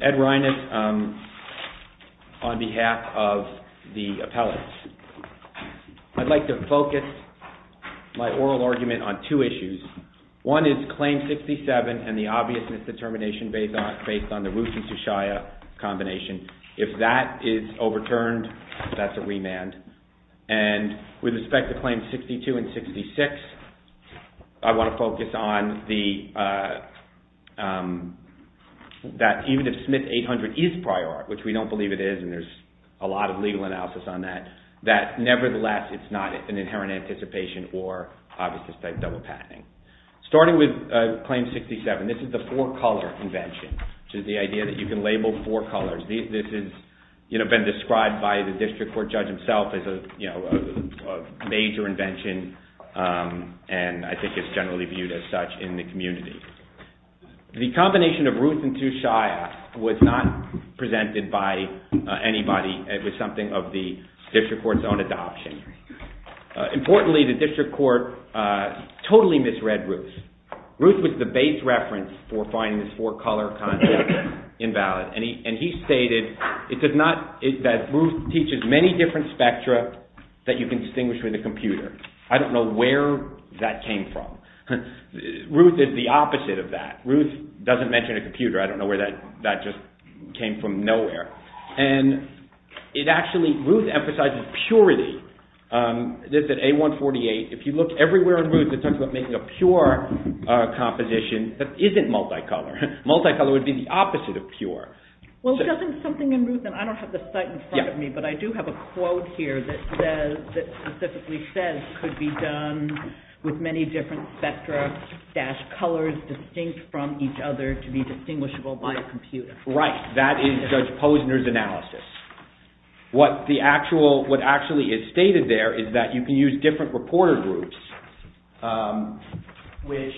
Ed Reines, on behalf of the appellate. I'd like to focus my oral argument on two issues. One is Claim 67 and the obvious misdetermination based on the Ruth and Sushaya combination. If that is overturned, that's a remand. And with respect to Claims 62 and 66, I want to focus on that even if Smith 800 is prior art, which we don't believe it is and there's a lot of legal analysis on that, that nevertheless it's not an inherent anticipation or obvious misdetermination. Starting with Claim 67, this is the four color convention, which is the idea that you can label four colors. This has been described by the district court judge himself as a major invention, and I think it's generally viewed as such in the community. The combination of Ruth and Sushaya was not presented by anybody. It was something of the district court's own adoption. Importantly, the district court totally misread Ruth. Ruth was the base reference for finding this four color concept invalid, and he stated that Ruth teaches many different spectra that you can distinguish with a computer. I don't know where that came from. Ruth is the opposite of that. Ruth doesn't mention a computer. I don't know where that just came from nowhere. And it actually, Ruth emphasizes purity. This is A148. If you look everywhere in Ruth, it talks about making a pure composition that isn't multicolor. Multicolor would be the opposite of pure. Well, doesn't something in Ruth, and I don't have the site in front of me, but I do have a quote here that specifically says it could be done with many different spectra-colors distinct from each other to be distinguishable by a computer. Right. That is Judge Posner's analysis. What actually is stated there is that you can use different reporter groups, which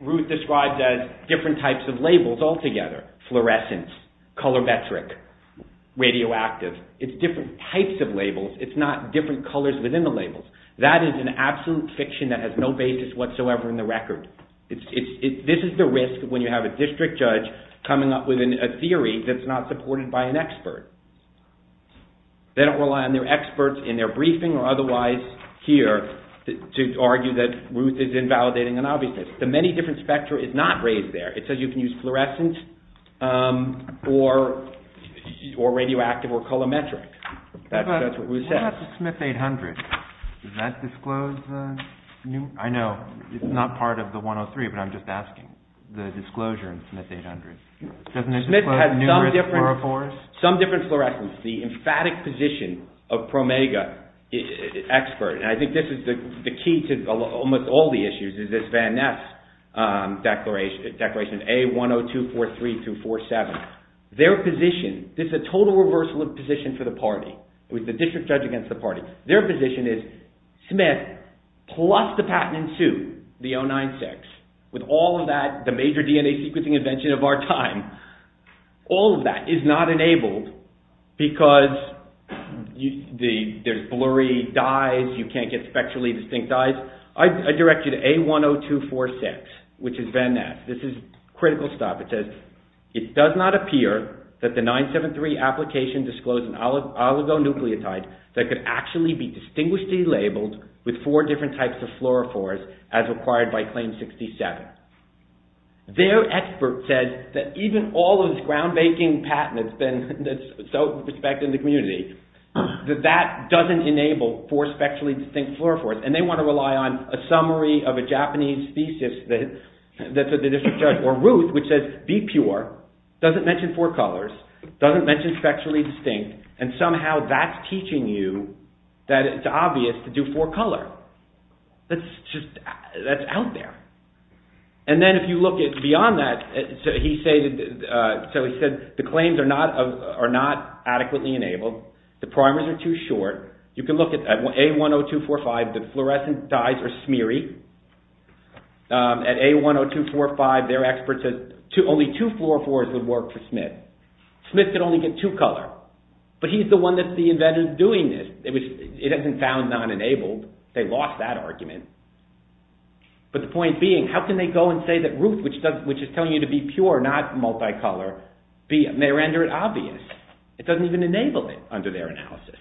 Ruth describes as different types of labels altogether. Fluorescence, color metric, radioactive. It's different types of labels. It's not different colors within the labels. That is an absolute fiction that has no basis whatsoever in the record. This is the risk when you have a district judge coming up with a theory that's not supported by an expert. They don't rely on their experts in their briefing or otherwise here to argue that Ruth is invalidating an obviousness. The many different spectra is not raised there. It says you can use fluorescence or radioactive or color metric. That's what Ruth says. What about the Smith 800? Does that disclose the new- I know. It's not part of the 103, but I'm just asking the disclosure in Smith 800. Smith has some different fluorescence. The emphatic position of PROMEGA expert, and I think this is the key to almost all the issues, is this Van Ness declaration, A10243247. Their position, this is a total reversal of position for the party. It was the district judge against the party. Their position is Smith plus the patent in suit, the 096, with all of that, the major DNA sequencing invention of our time. All of that is not enabled because there's blurry dyes. You can't get spectrally distinct dyes. I direct you to A10246, which is Van Ness. This is critical stuff. It says it does not appear that the 973 application disclosed an oligonucleotide that could actually be distinguishedly labeled with four different types of fluorophores as required by Claim 67. Their expert says that even all of this ground-breaking patent that's so respected in the community, that that doesn't enable four spectrally distinct fluorophores, and they want to rely on a summary of a Japanese thesis that the district judge, or Ruth, which says be pure, doesn't mention four colors, doesn't mention spectrally distinct, and somehow that's teaching you that it's obvious to do four color. That's out there. And then if you look beyond that, he said the claims are not adequately enabled. The primers are too short. You can look at A10245. The fluorescent dyes are smeary. At A10245, their expert says only two fluorophores would work for Smith. Smith could only get two color. But he's the one that's the inventor of doing this. It hasn't been found non-enabled. They lost that argument. But the point being, how can they go and say that Ruth, which is telling you to be pure, not multicolor, may render it obvious? It doesn't even enable it under their analysis.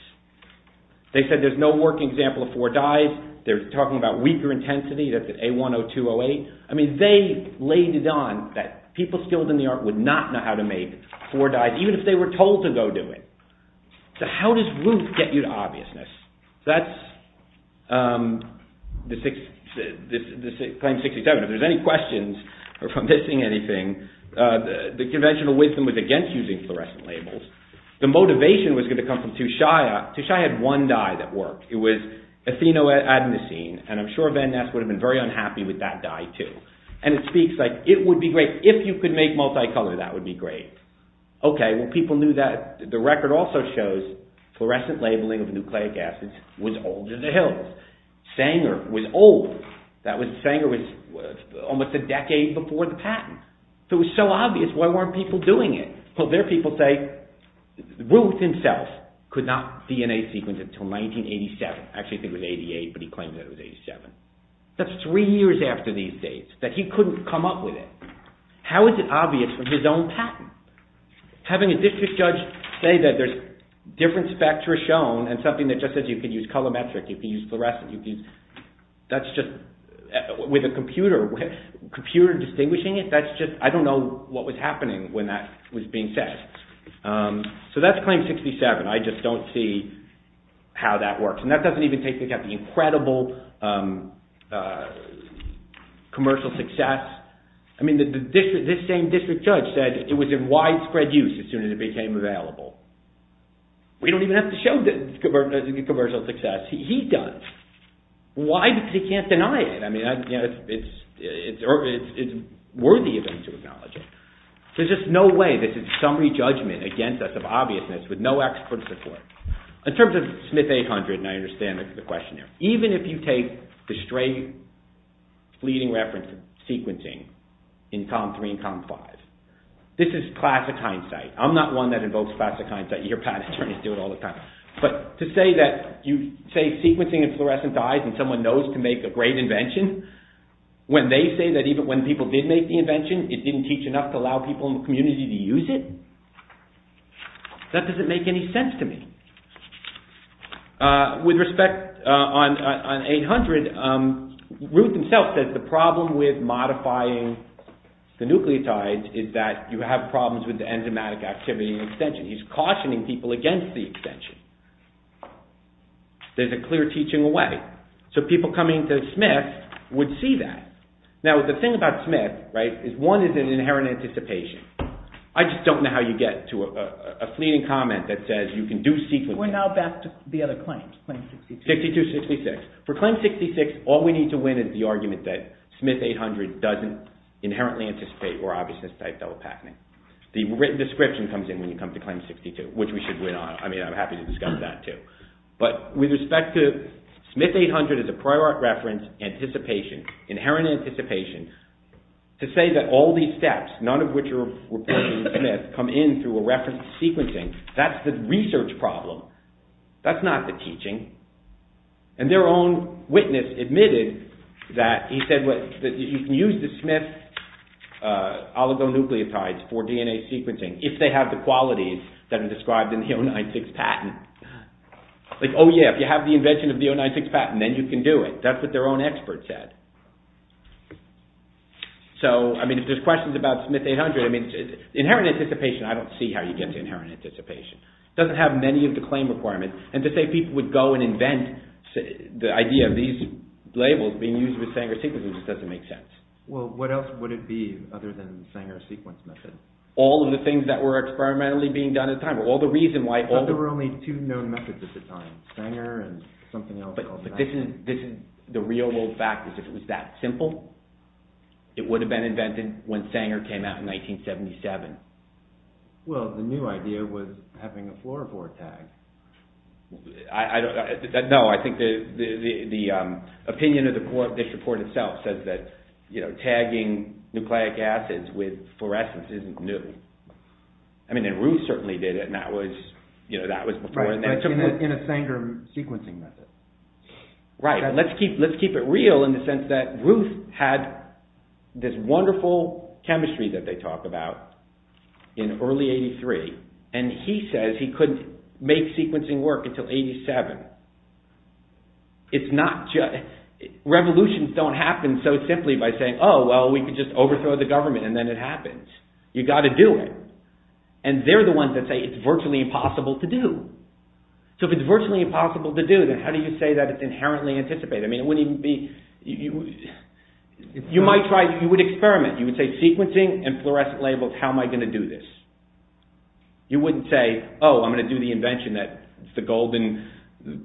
They said there's no working example of four dyes. They're talking about weaker intensity. That's at A10208. They laid it on that people skilled in the art would not know how to make four dyes, even if they were told to go do it. So how does Ruth get you to obviousness? That's claim 67. If there's any questions, or if I'm missing anything, the conventional wisdom was against using fluorescent labels. The motivation was going to come from Tushaya. Tushaya had one dye that worked. It was ethinoadenosine, and I'm sure Van Ness would have been very unhappy with that dye, too. And it speaks like, it would be great if you could make multicolor. That would be great. Okay, well, people knew that. The record also shows fluorescent labeling of nucleic acids was older than Hills. Sanger was old. Sanger was almost a decade before the patent. So it was so obvious, why weren't people doing it? Well, there are people who say Ruth himself could not DNA sequence it until 1987. Actually, I think it was 88, but he claims it was 87. That's three years after these dates, that he couldn't come up with it. How is it obvious with his own patent? Having a district judge say that there's different spectra shown, and something that just says you can use colorimetric, you can use fluorescent, that's just, with a computer, computer distinguishing it, that's just, I don't know what was happening when that was being said. So that's claim 67. I just don't see how that works. And that doesn't even take into account the incredible commercial success. I mean, this same district judge said it was in widespread use as soon as it became available. We don't even have to show commercial success. He does. Why? Because he can't deny it. I mean, it's worthy of him to acknowledge it. There's just no way. This is summary judgment against us of obviousness with no expert support. In terms of Smith 800, and I understand the question there, even if you take the stray fleeting reference of sequencing in column 3 and column 5, this is classic hindsight. I'm not one that invokes classic hindsight. Your patent attorneys do it all the time. But to say that you say sequencing and fluorescent dyes, and someone knows to make a great invention, when they say that even when people did make the invention, it didn't teach enough to allow people in the community to use it, that doesn't make any sense to me. With respect on 800, Ruth himself says the problem with modifying the nucleotides is that you have problems with the enzymatic activity in extension. He's cautioning people against the extension. There's a clear teaching away. So people coming to Smith would see that. Now, the thing about Smith is one is an inherent anticipation. I just don't know how you get to a fleeting comment that says you can do sequencing. We're now back to the other claims, claim 62. 62, 66. For claim 66, all we need to win is the argument that Smith 800 doesn't inherently anticipate or obviousness type double patenting. The written description comes in when you come to claim 62, which we should win on. I mean, I'm happy to discuss that too. But with respect to Smith 800 as a prior art reference, anticipation, inherent anticipation, to say that all these steps, none of which are reported in Smith, come in through a reference sequencing, that's the research problem. That's not the teaching. And their own witness admitted that he said you can use the Smith oligonucleotides for DNA sequencing if they have the qualities that are described in the 096 patent. Like, oh yeah, if you have the invention of the 096 patent, then you can do it. That's what their own expert said. So, I mean, if there's questions about Smith 800, inherent anticipation, I don't see how you get to inherent anticipation. It doesn't have many of the claim requirements. And to say people would go and invent the idea of these labels being used with Sanger sequencing just doesn't make sense. Well, what else would it be other than the Sanger sequence method? All of the things that were experimentally being done at the time. All the reason why... But there were only two known methods at the time. Sanger and something else. But the real world fact is if it was that simple, it would have been invented when Sanger came out in 1977. Well, the new idea was having a fluorophore tag. No, I think the opinion of this report itself says that tagging nucleic acids with fluorescence isn't new. I mean, and Ruth certainly did it, and that was before... Right, but in a Sanger sequencing method. Right, let's keep it real in the sense that Ruth had this wonderful chemistry that they talk about in early 83, and he says he couldn't make sequencing work until 87. It's not just... Revolutions don't happen so simply by saying, oh, well, we could just overthrow the government and then it happens. You've got to do it. And they're the ones that say it's virtually impossible to do. So if it's virtually impossible to do, then how do you say that it's inherently anticipated? I mean, it wouldn't even be... You might try... You would experiment. You would say sequencing and fluorescent labels, how am I going to do this? You wouldn't say, oh, I'm going to do the invention. It's the golden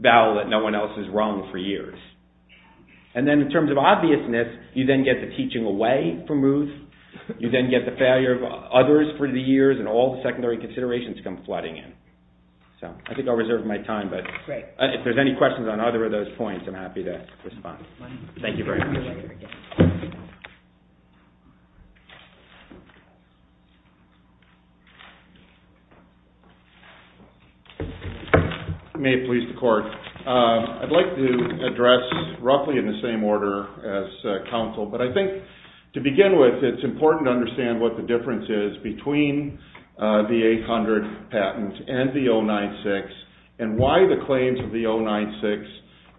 bell that no one else is wrong for years. And then in terms of obviousness, you then get the teaching away from Ruth. You then get the failure of others for the years, and all the secondary considerations come flooding in. So I think I'll reserve my time, but... Great. If there's any questions on either of those points, I'm happy to respond. Thank you very much. May it please the Court. I'd like to address roughly in the same order as counsel, but I think to begin with, it's important to understand what the difference is between the 800 patent and the 096 and why the claims of the 096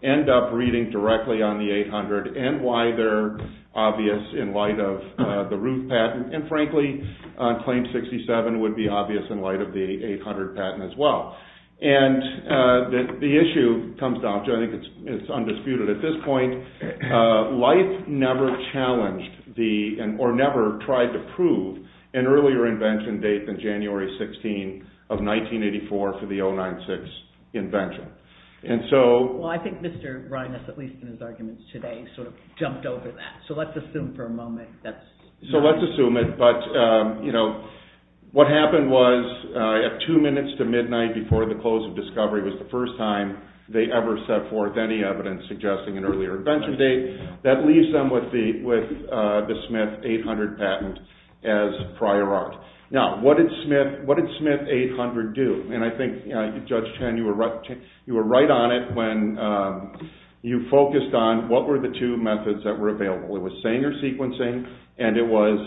end up reading directly on the 800 and why they're obvious in light of the Ruth patent. And frankly, on claim 67, would be obvious in light of the 800 patent as well. And the issue comes down to, I think it's undisputed at this point, life never challenged or never tried to prove an earlier invention date than January 16 of 1984 for the 096 invention. And so... Well, I think Mr. Reines, at least in his arguments today, sort of jumped over that. So let's assume for a moment that's... So let's assume it. But, you know, what happened was at two minutes to midnight before the close of discovery was the first time they ever set forth any evidence suggesting an earlier invention date. That leaves them with the Smith 800 patent as prior art. Now, what did Smith 800 do? And I think, Judge Chen, you were right on it when you focused on what were the two methods that were available. It was Sanger sequencing and it was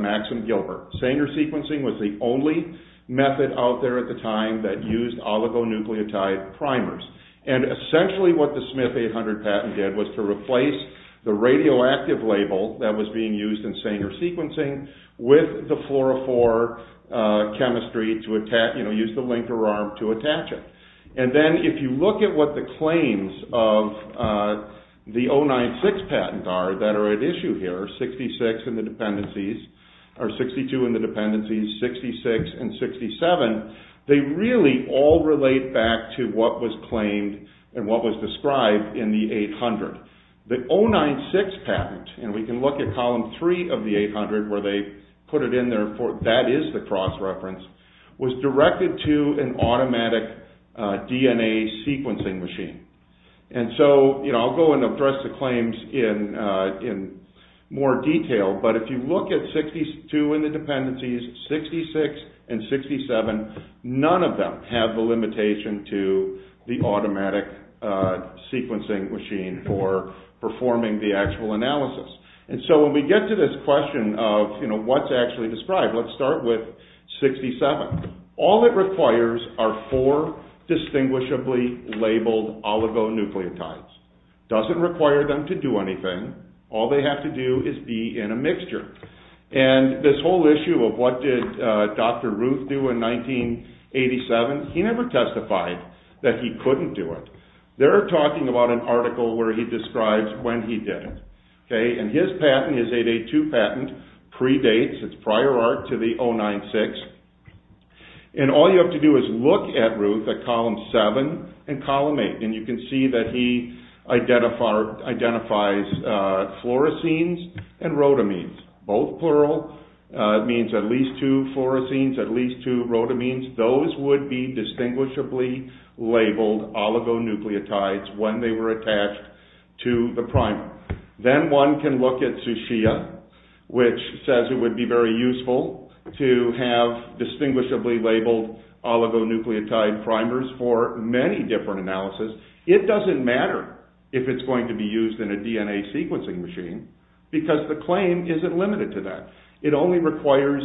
Maxim Gilbert. Sanger sequencing was the only method out there at the time that used oligonucleotide primers. And essentially what the Smith 800 patent did was to replace the radioactive label that was being used in Sanger sequencing with the fluorophore chemistry to use the linker arm to attach it. And then if you look at what the claims of the 096 patents are that are at issue here, 66 in the dependencies, or 62 in the dependencies, 66 and 67, they really all relate back to what was claimed and what was described in the 800. The 096 patent, and we can look at column 3 of the 800 where they put it in there, that is the cross reference, was directed to an automatic DNA sequencing machine. And so, you know, I'll go and address the claims in more detail, but if you look at 62 in the dependencies, 66 and 67, none of them have the limitation to the automatic sequencing machine for performing the actual analysis. And so when we get to this question of, you know, what's actually described, let's start with 67. All it requires are four distinguishably labeled oligonucleotides. Doesn't require them to do anything. All they have to do is be in a mixture. And this whole issue of what did Dr. Ruth do in 1987, he never testified that he couldn't do it. They're talking about an article where he describes when he did it. Okay, and his patent, his 882 patent, predates, it's prior art, to the 096. And all you have to do is look at, Ruth, at column 7 and column 8, and you can see that he identifies fluoresceins and rhodamines. Both plural, means at least two fluoresceins, at least two rhodamines. Those would be distinguishably labeled oligonucleotides when they were attached to the primer. Then one can look at Zushia, which says it would be very useful to have distinguishably labeled oligonucleotide primers for many different analysis. It doesn't matter if it's going to be used in a DNA sequencing machine, because the claim isn't limited to that. It only requires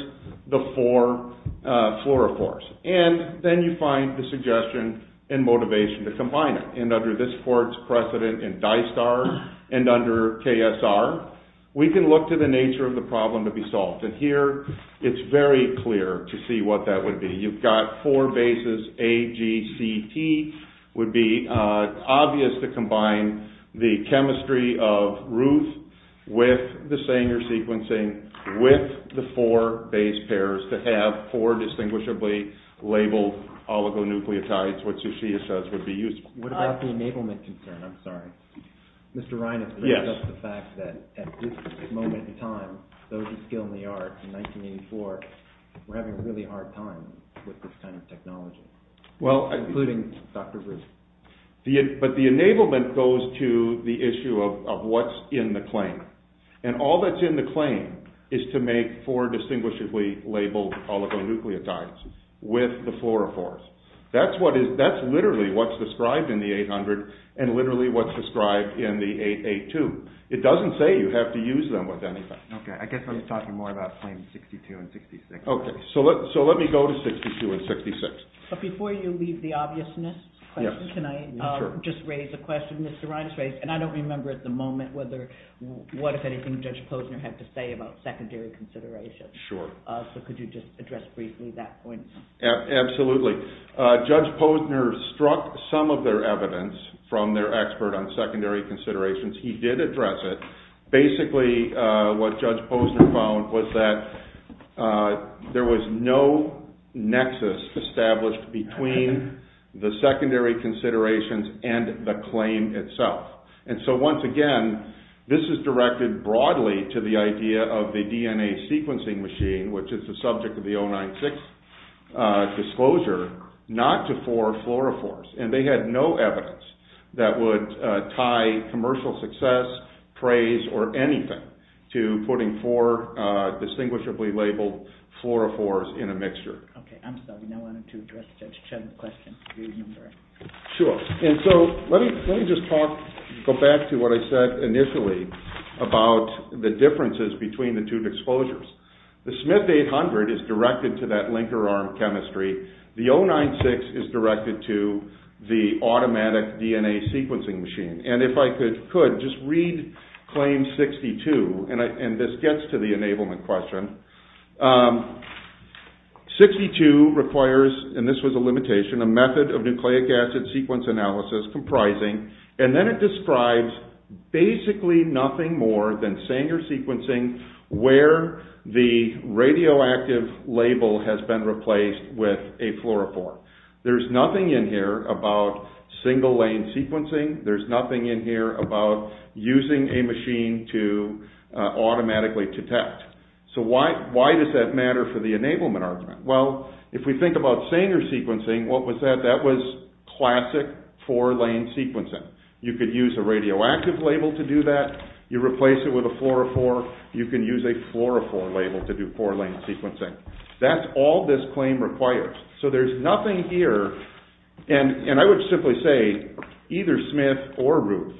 the four fluorophores. And then you find the suggestion and motivation to combine it. And under this court's precedent in DISTAR, and under KSR, we can look to the nature of the problem to be solved. And here, it's very clear to see what that would be. You've got four bases, A, G, C, T. Would be obvious to combine the chemistry of Ruth with the Sanger sequencing with the four base pairs to have four distinguishably labeled oligonucleotides, which Zushia says would be useful. What about the enablement concern? I'm sorry. Mr. Reines brings up the fact that at this moment in time, those who skill in the art in 1984 were having a really hard time with this kind of technology, including Dr. Ruth. But the enablement goes to the issue of what's in the claim. And all that's in the claim is to make four distinguishably labeled oligonucleotides with the fluorophores. That's literally what's described in the 800 and literally what's described in the 882. It doesn't say you have to use them with anything. I guess we're talking more about claims 62 and 66. Okay, so let me go to 62 and 66. But before you leave the obviousness question, can I just raise a question Mr. Reines raised? And I don't remember at the moment what, if anything, Judge Posner had to say about secondary considerations. So could you just address briefly that point? Absolutely. Judge Posner struck some of their evidence from their expert on secondary considerations. He did address it. But basically what Judge Posner found was that there was no nexus established between the secondary considerations and the claim itself. And so once again, this is directed broadly to the idea of the DNA sequencing machine, which is the subject of the 096 disclosure, not to four fluorophores. And they had no evidence that would tie commercial success, praise, or anything to putting four distinguishably labeled fluorophores in a mixture. Okay, I'm sorry. I wanted to address Judge Chet's question. Excuse me, I'm sorry. Sure. And so let me just talk, go back to what I said initially about the differences between the two exposures. The Smith 800 is directed to that linker arm chemistry. The 096 is directed to the automatic DNA sequencing machine. And if I could, just read claim 62, and this gets to the enablement question. 62 requires, and this was a limitation, a method of nucleic acid sequence analysis comprising, and then it describes basically nothing more than Sanger sequencing where the radioactive label has been replaced with a fluorophore. There's nothing in here about single-lane sequencing. There's nothing in here about using a machine to automatically detect. So why does that matter for the enablement argument? Well, if we think about Sanger sequencing, what was that? That was classic four-lane sequencing. You could use a radioactive label to do that. You replace it with a fluorophore. You can use a fluorophore label to do four-lane sequencing. That's all this claim requires. So there's nothing here, and I would simply say either Smith or Ruth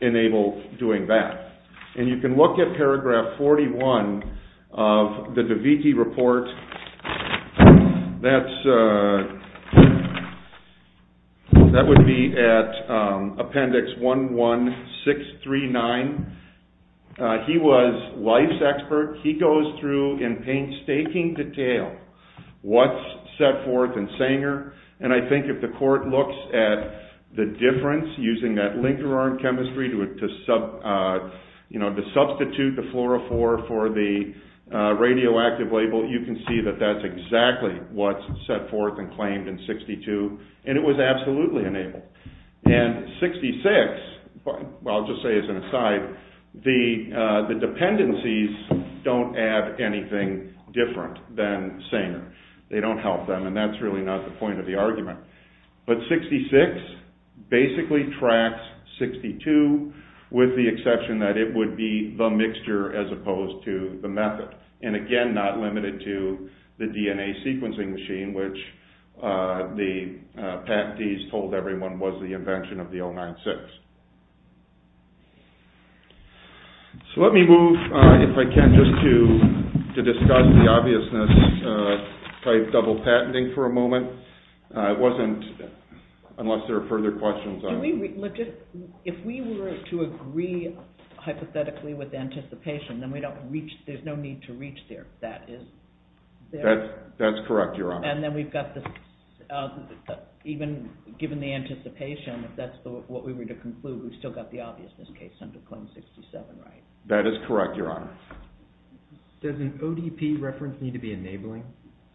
enable doing that. And you can look at paragraph 41 of the DeViti report. That would be at appendix 11639. He was life's expert. He goes through in painstaking detail what's set forth in Sanger, and I think if the court looks at the difference using that linker arm chemistry to substitute the fluorophore for the radioactive label, you can see that that's exactly what's set forth and claimed in 62, and it was absolutely enabled. And 66, I'll just say as an aside, the dependencies don't add anything different than Sanger. They don't help them, and that's really not the point of the argument. But 66 basically tracks 62, with the exception that it would be the mixture as opposed to the method. And again, not limited to the DNA sequencing machine, which the patentees told everyone was the invention of the L96. So let me move, if I can, just to discuss the obviousness of double patenting for a moment. It wasn't, unless there are further questions. If we were to agree hypothetically with anticipation, then there's no need to reach there. That's correct, Your Honor. And then we've got the, even given the anticipation, if that's what we were to conclude, we've still got the obviousness case under claim 67, right? That is correct, Your Honor. Does an ODP reference need to be enabling,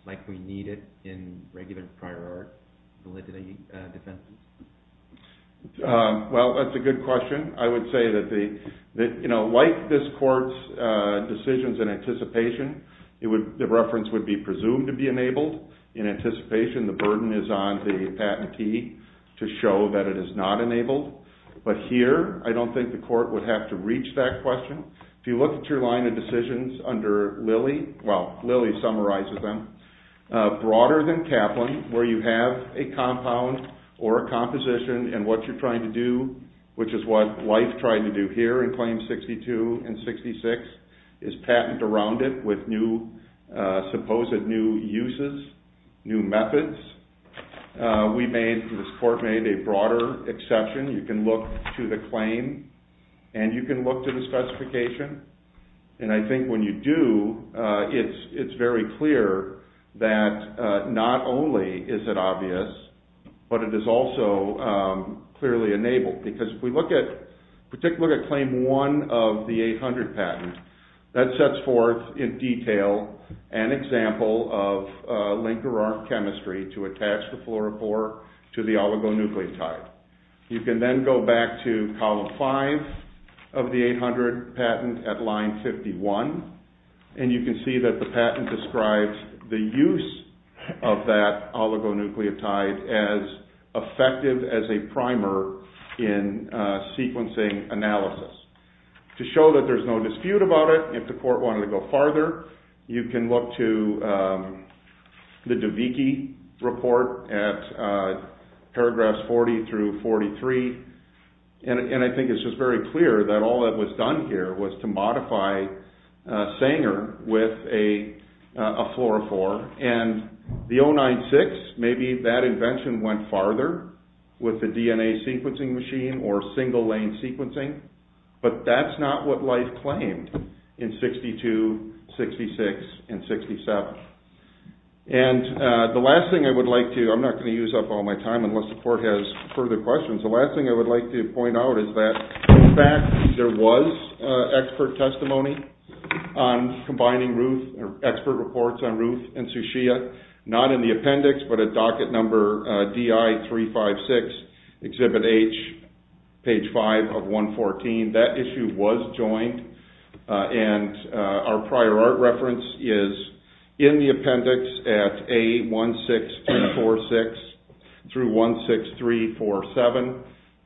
like we need it in regular prior art validity defense? Well, that's a good question. I would say that, you know, like this court's decisions in anticipation, the reference would be presumed to be enabled. In anticipation, the burden is on the patentee to show that it is not enabled. But here, I don't think the court would have to reach that question. If you look at your line of decisions under Lilly, well, Lilly summarizes them, broader than Kaplan, where you have a compound or a composition and what you're trying to do, which is what Wife tried to do here in claims 62 and 66, is patent around it with new, supposed new uses, new methods. We made, this court made a broader exception. You can look to the claim and you can look to the specification. And I think when you do, it's very clear that not only is it obvious, but it is also clearly enabled. Because if we look at, if we take a look at Claim 1 of the 800 patent, that sets forth in detail an example of linker arm chemistry to attach the fluorophore to the oligonucleotide. You can then go back to Column 5 of the 800 patent at Line 51 and you can see that the patent describes the use of that oligonucleotide as effective as a primer in sequencing analysis. To show that there's no dispute about it, if the court wanted to go farther, you can look to the DeVicke report at paragraphs 40 through 43. And I think it's just very clear that all that was done here was to modify Sanger with a fluorophore. And the 096, maybe that invention went farther with the DNA sequencing machine or single lane sequencing. But that's not what life claimed in 62, 66, and 67. And the last thing I would like to... I'm not going to use up all my time unless the court has further questions. The last thing I would like to point out is that in fact there was expert testimony on combining expert reports on Ruth and Suchia, not in the appendix, but at docket number DI356, Exhibit H, page 5 of 114. That issue was joined And our prior art reference is in the appendix at A16346 through 16347.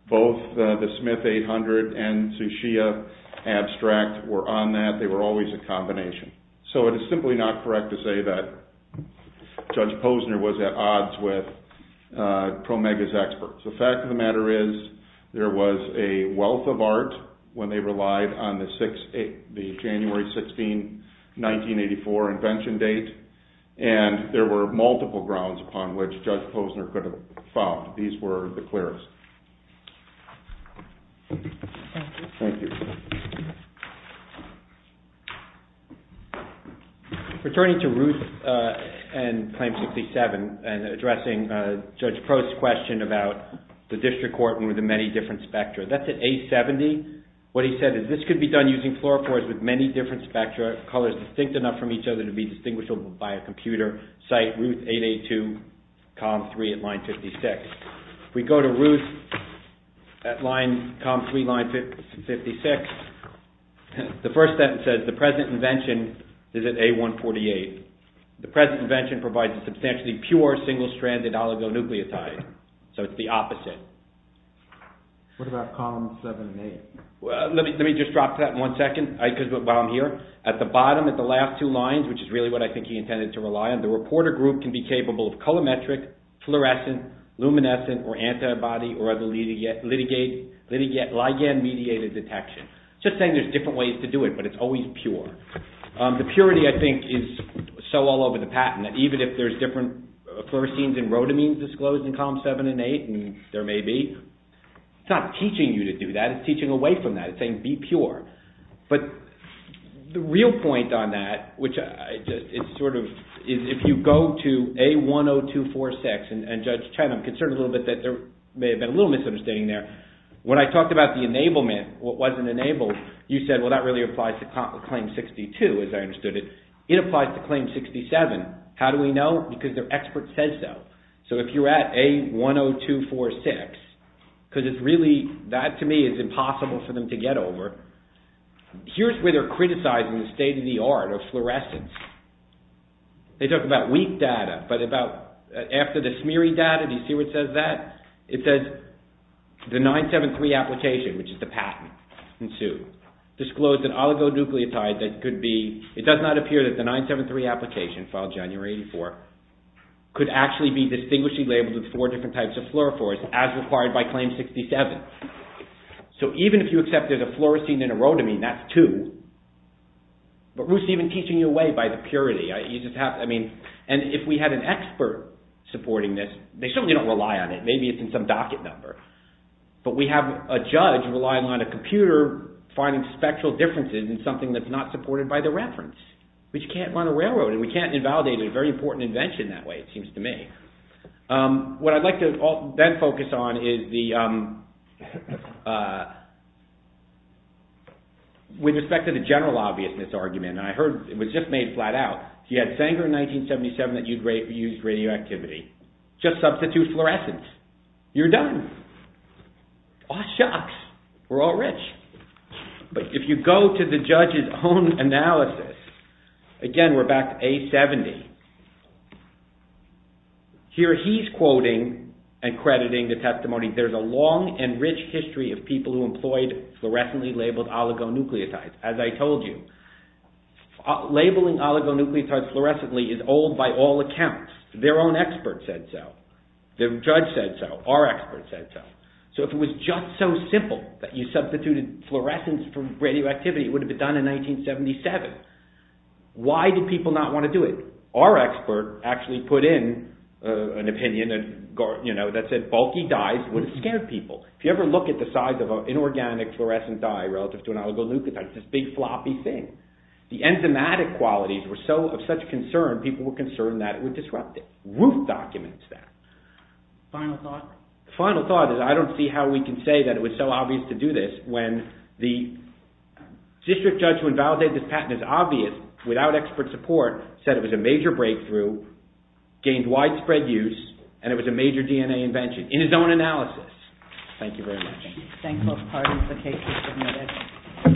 Both the Smith 800 and Suchia abstract were on that. They were always a combination. So it is simply not correct to say that Judge Posner was at odds with Promega's experts. The fact of the matter is there was a wealth of art when they relied on the January 16, 1984 invention date. And there were multiple grounds upon which Judge Posner could have found. These were the clearest. Thank you. Returning to Ruth and Claim 67 and addressing Judge Post's question about the district court and the many different spectra. That's at A70. What he said is, this could be done using fluorophores with many different spectra, colors distinct enough from each other to be distinguishable by a computer, cite Ruth 882, column 3 at line 56. We go to Ruth at line, column 3, line 56. The first sentence says, the present invention is at A148. The present invention provides a substantially pure single-stranded oligonucleotide. So it's the opposite. What about columns 7 and 8? Let me just drop to that in one second while I'm here. At the bottom, at the last two lines, which is really what I think he intended to rely on, the reporter group can be capable of colometric, fluorescent, luminescent, or antibody or other ligand-mediated detection. Just saying there's different ways to do it, but it's always pure. The purity, I think, is so all over the patent that even if there's different fluoresceins and rhodamines disclosed in columns 7 and 8 and there may be, it's not teaching you to do that. It's teaching away from that. It's saying be pure. But the real point on that, which is sort of, if you go to A10246, and Judge Chen, I'm concerned a little bit that there may have been a little misunderstanding there. When I talked about the enablement, what wasn't enabled, you said, well, that really applies to claim 62, as I understood it. It applies to claim 67. How do we know? Because the expert says so. So if you're at A10246, because it's really, that to me is impossible for them to get over. Here's where they're criticizing the state of the art of fluorescence. They talk about weak data, but after the smeary data, do you see where it says that? It says, the 973 application, which is the patent, ensued, disclosed an oligonucleotide that could be, it does not appear that the 973 application, filed January 84, could actually be distinguishedly labeled with four different types of fluorophores, as required by claim 67. So even if you accept there's a fluorescein and a rhodamine, that's two. But who's even teaching you away by the purity? You just have, I mean, and if we had an expert supporting this, they certainly don't rely on it. Maybe it's in some docket number. But we have a judge relying on a computer finding spectral differences in something that's not supported by the reference. But you can't run a railroad, and we can't invalidate it. It's a very important invention that way, it seems to me. What I'd like to then focus on is the, with respect to the general obviousness argument, and I heard, it was just made flat out. If you had Sanger in 1977 that used radioactivity, just substitute fluorescence. You're done. Aw shucks. We're all rich. But if you go to the judge's own analysis, again, we're back to A70. Here he's quoting and crediting the testimony. There's a long and rich history of people who employed fluorescently labeled oligonucleotides. As I told you, labeling oligonucleotides fluorescently is old by all accounts. Their own expert said so. Their judge said so. Our expert said so. So if it was just so simple that you substituted fluorescence for radioactivity, it would have been done in 1977. Why did people not want to do it? Our expert actually put in an opinion that said bulky dyes would scare people. If you ever look at the size of an inorganic fluorescent dye relative to an oligonucleotide, it's this big floppy thing. The enzymatic qualities were so of such concern, people were concerned that it would disrupt it. Roof documents that. Final thought? Final thought is I don't see how we can say that it was so obvious to do this when the district judge who invalidated this patent and is obvious without expert support said it was a major breakthrough, gained widespread use, and it was a major DNA invention in his own analysis. Thank you very much. Thank both parties. The case is submitted.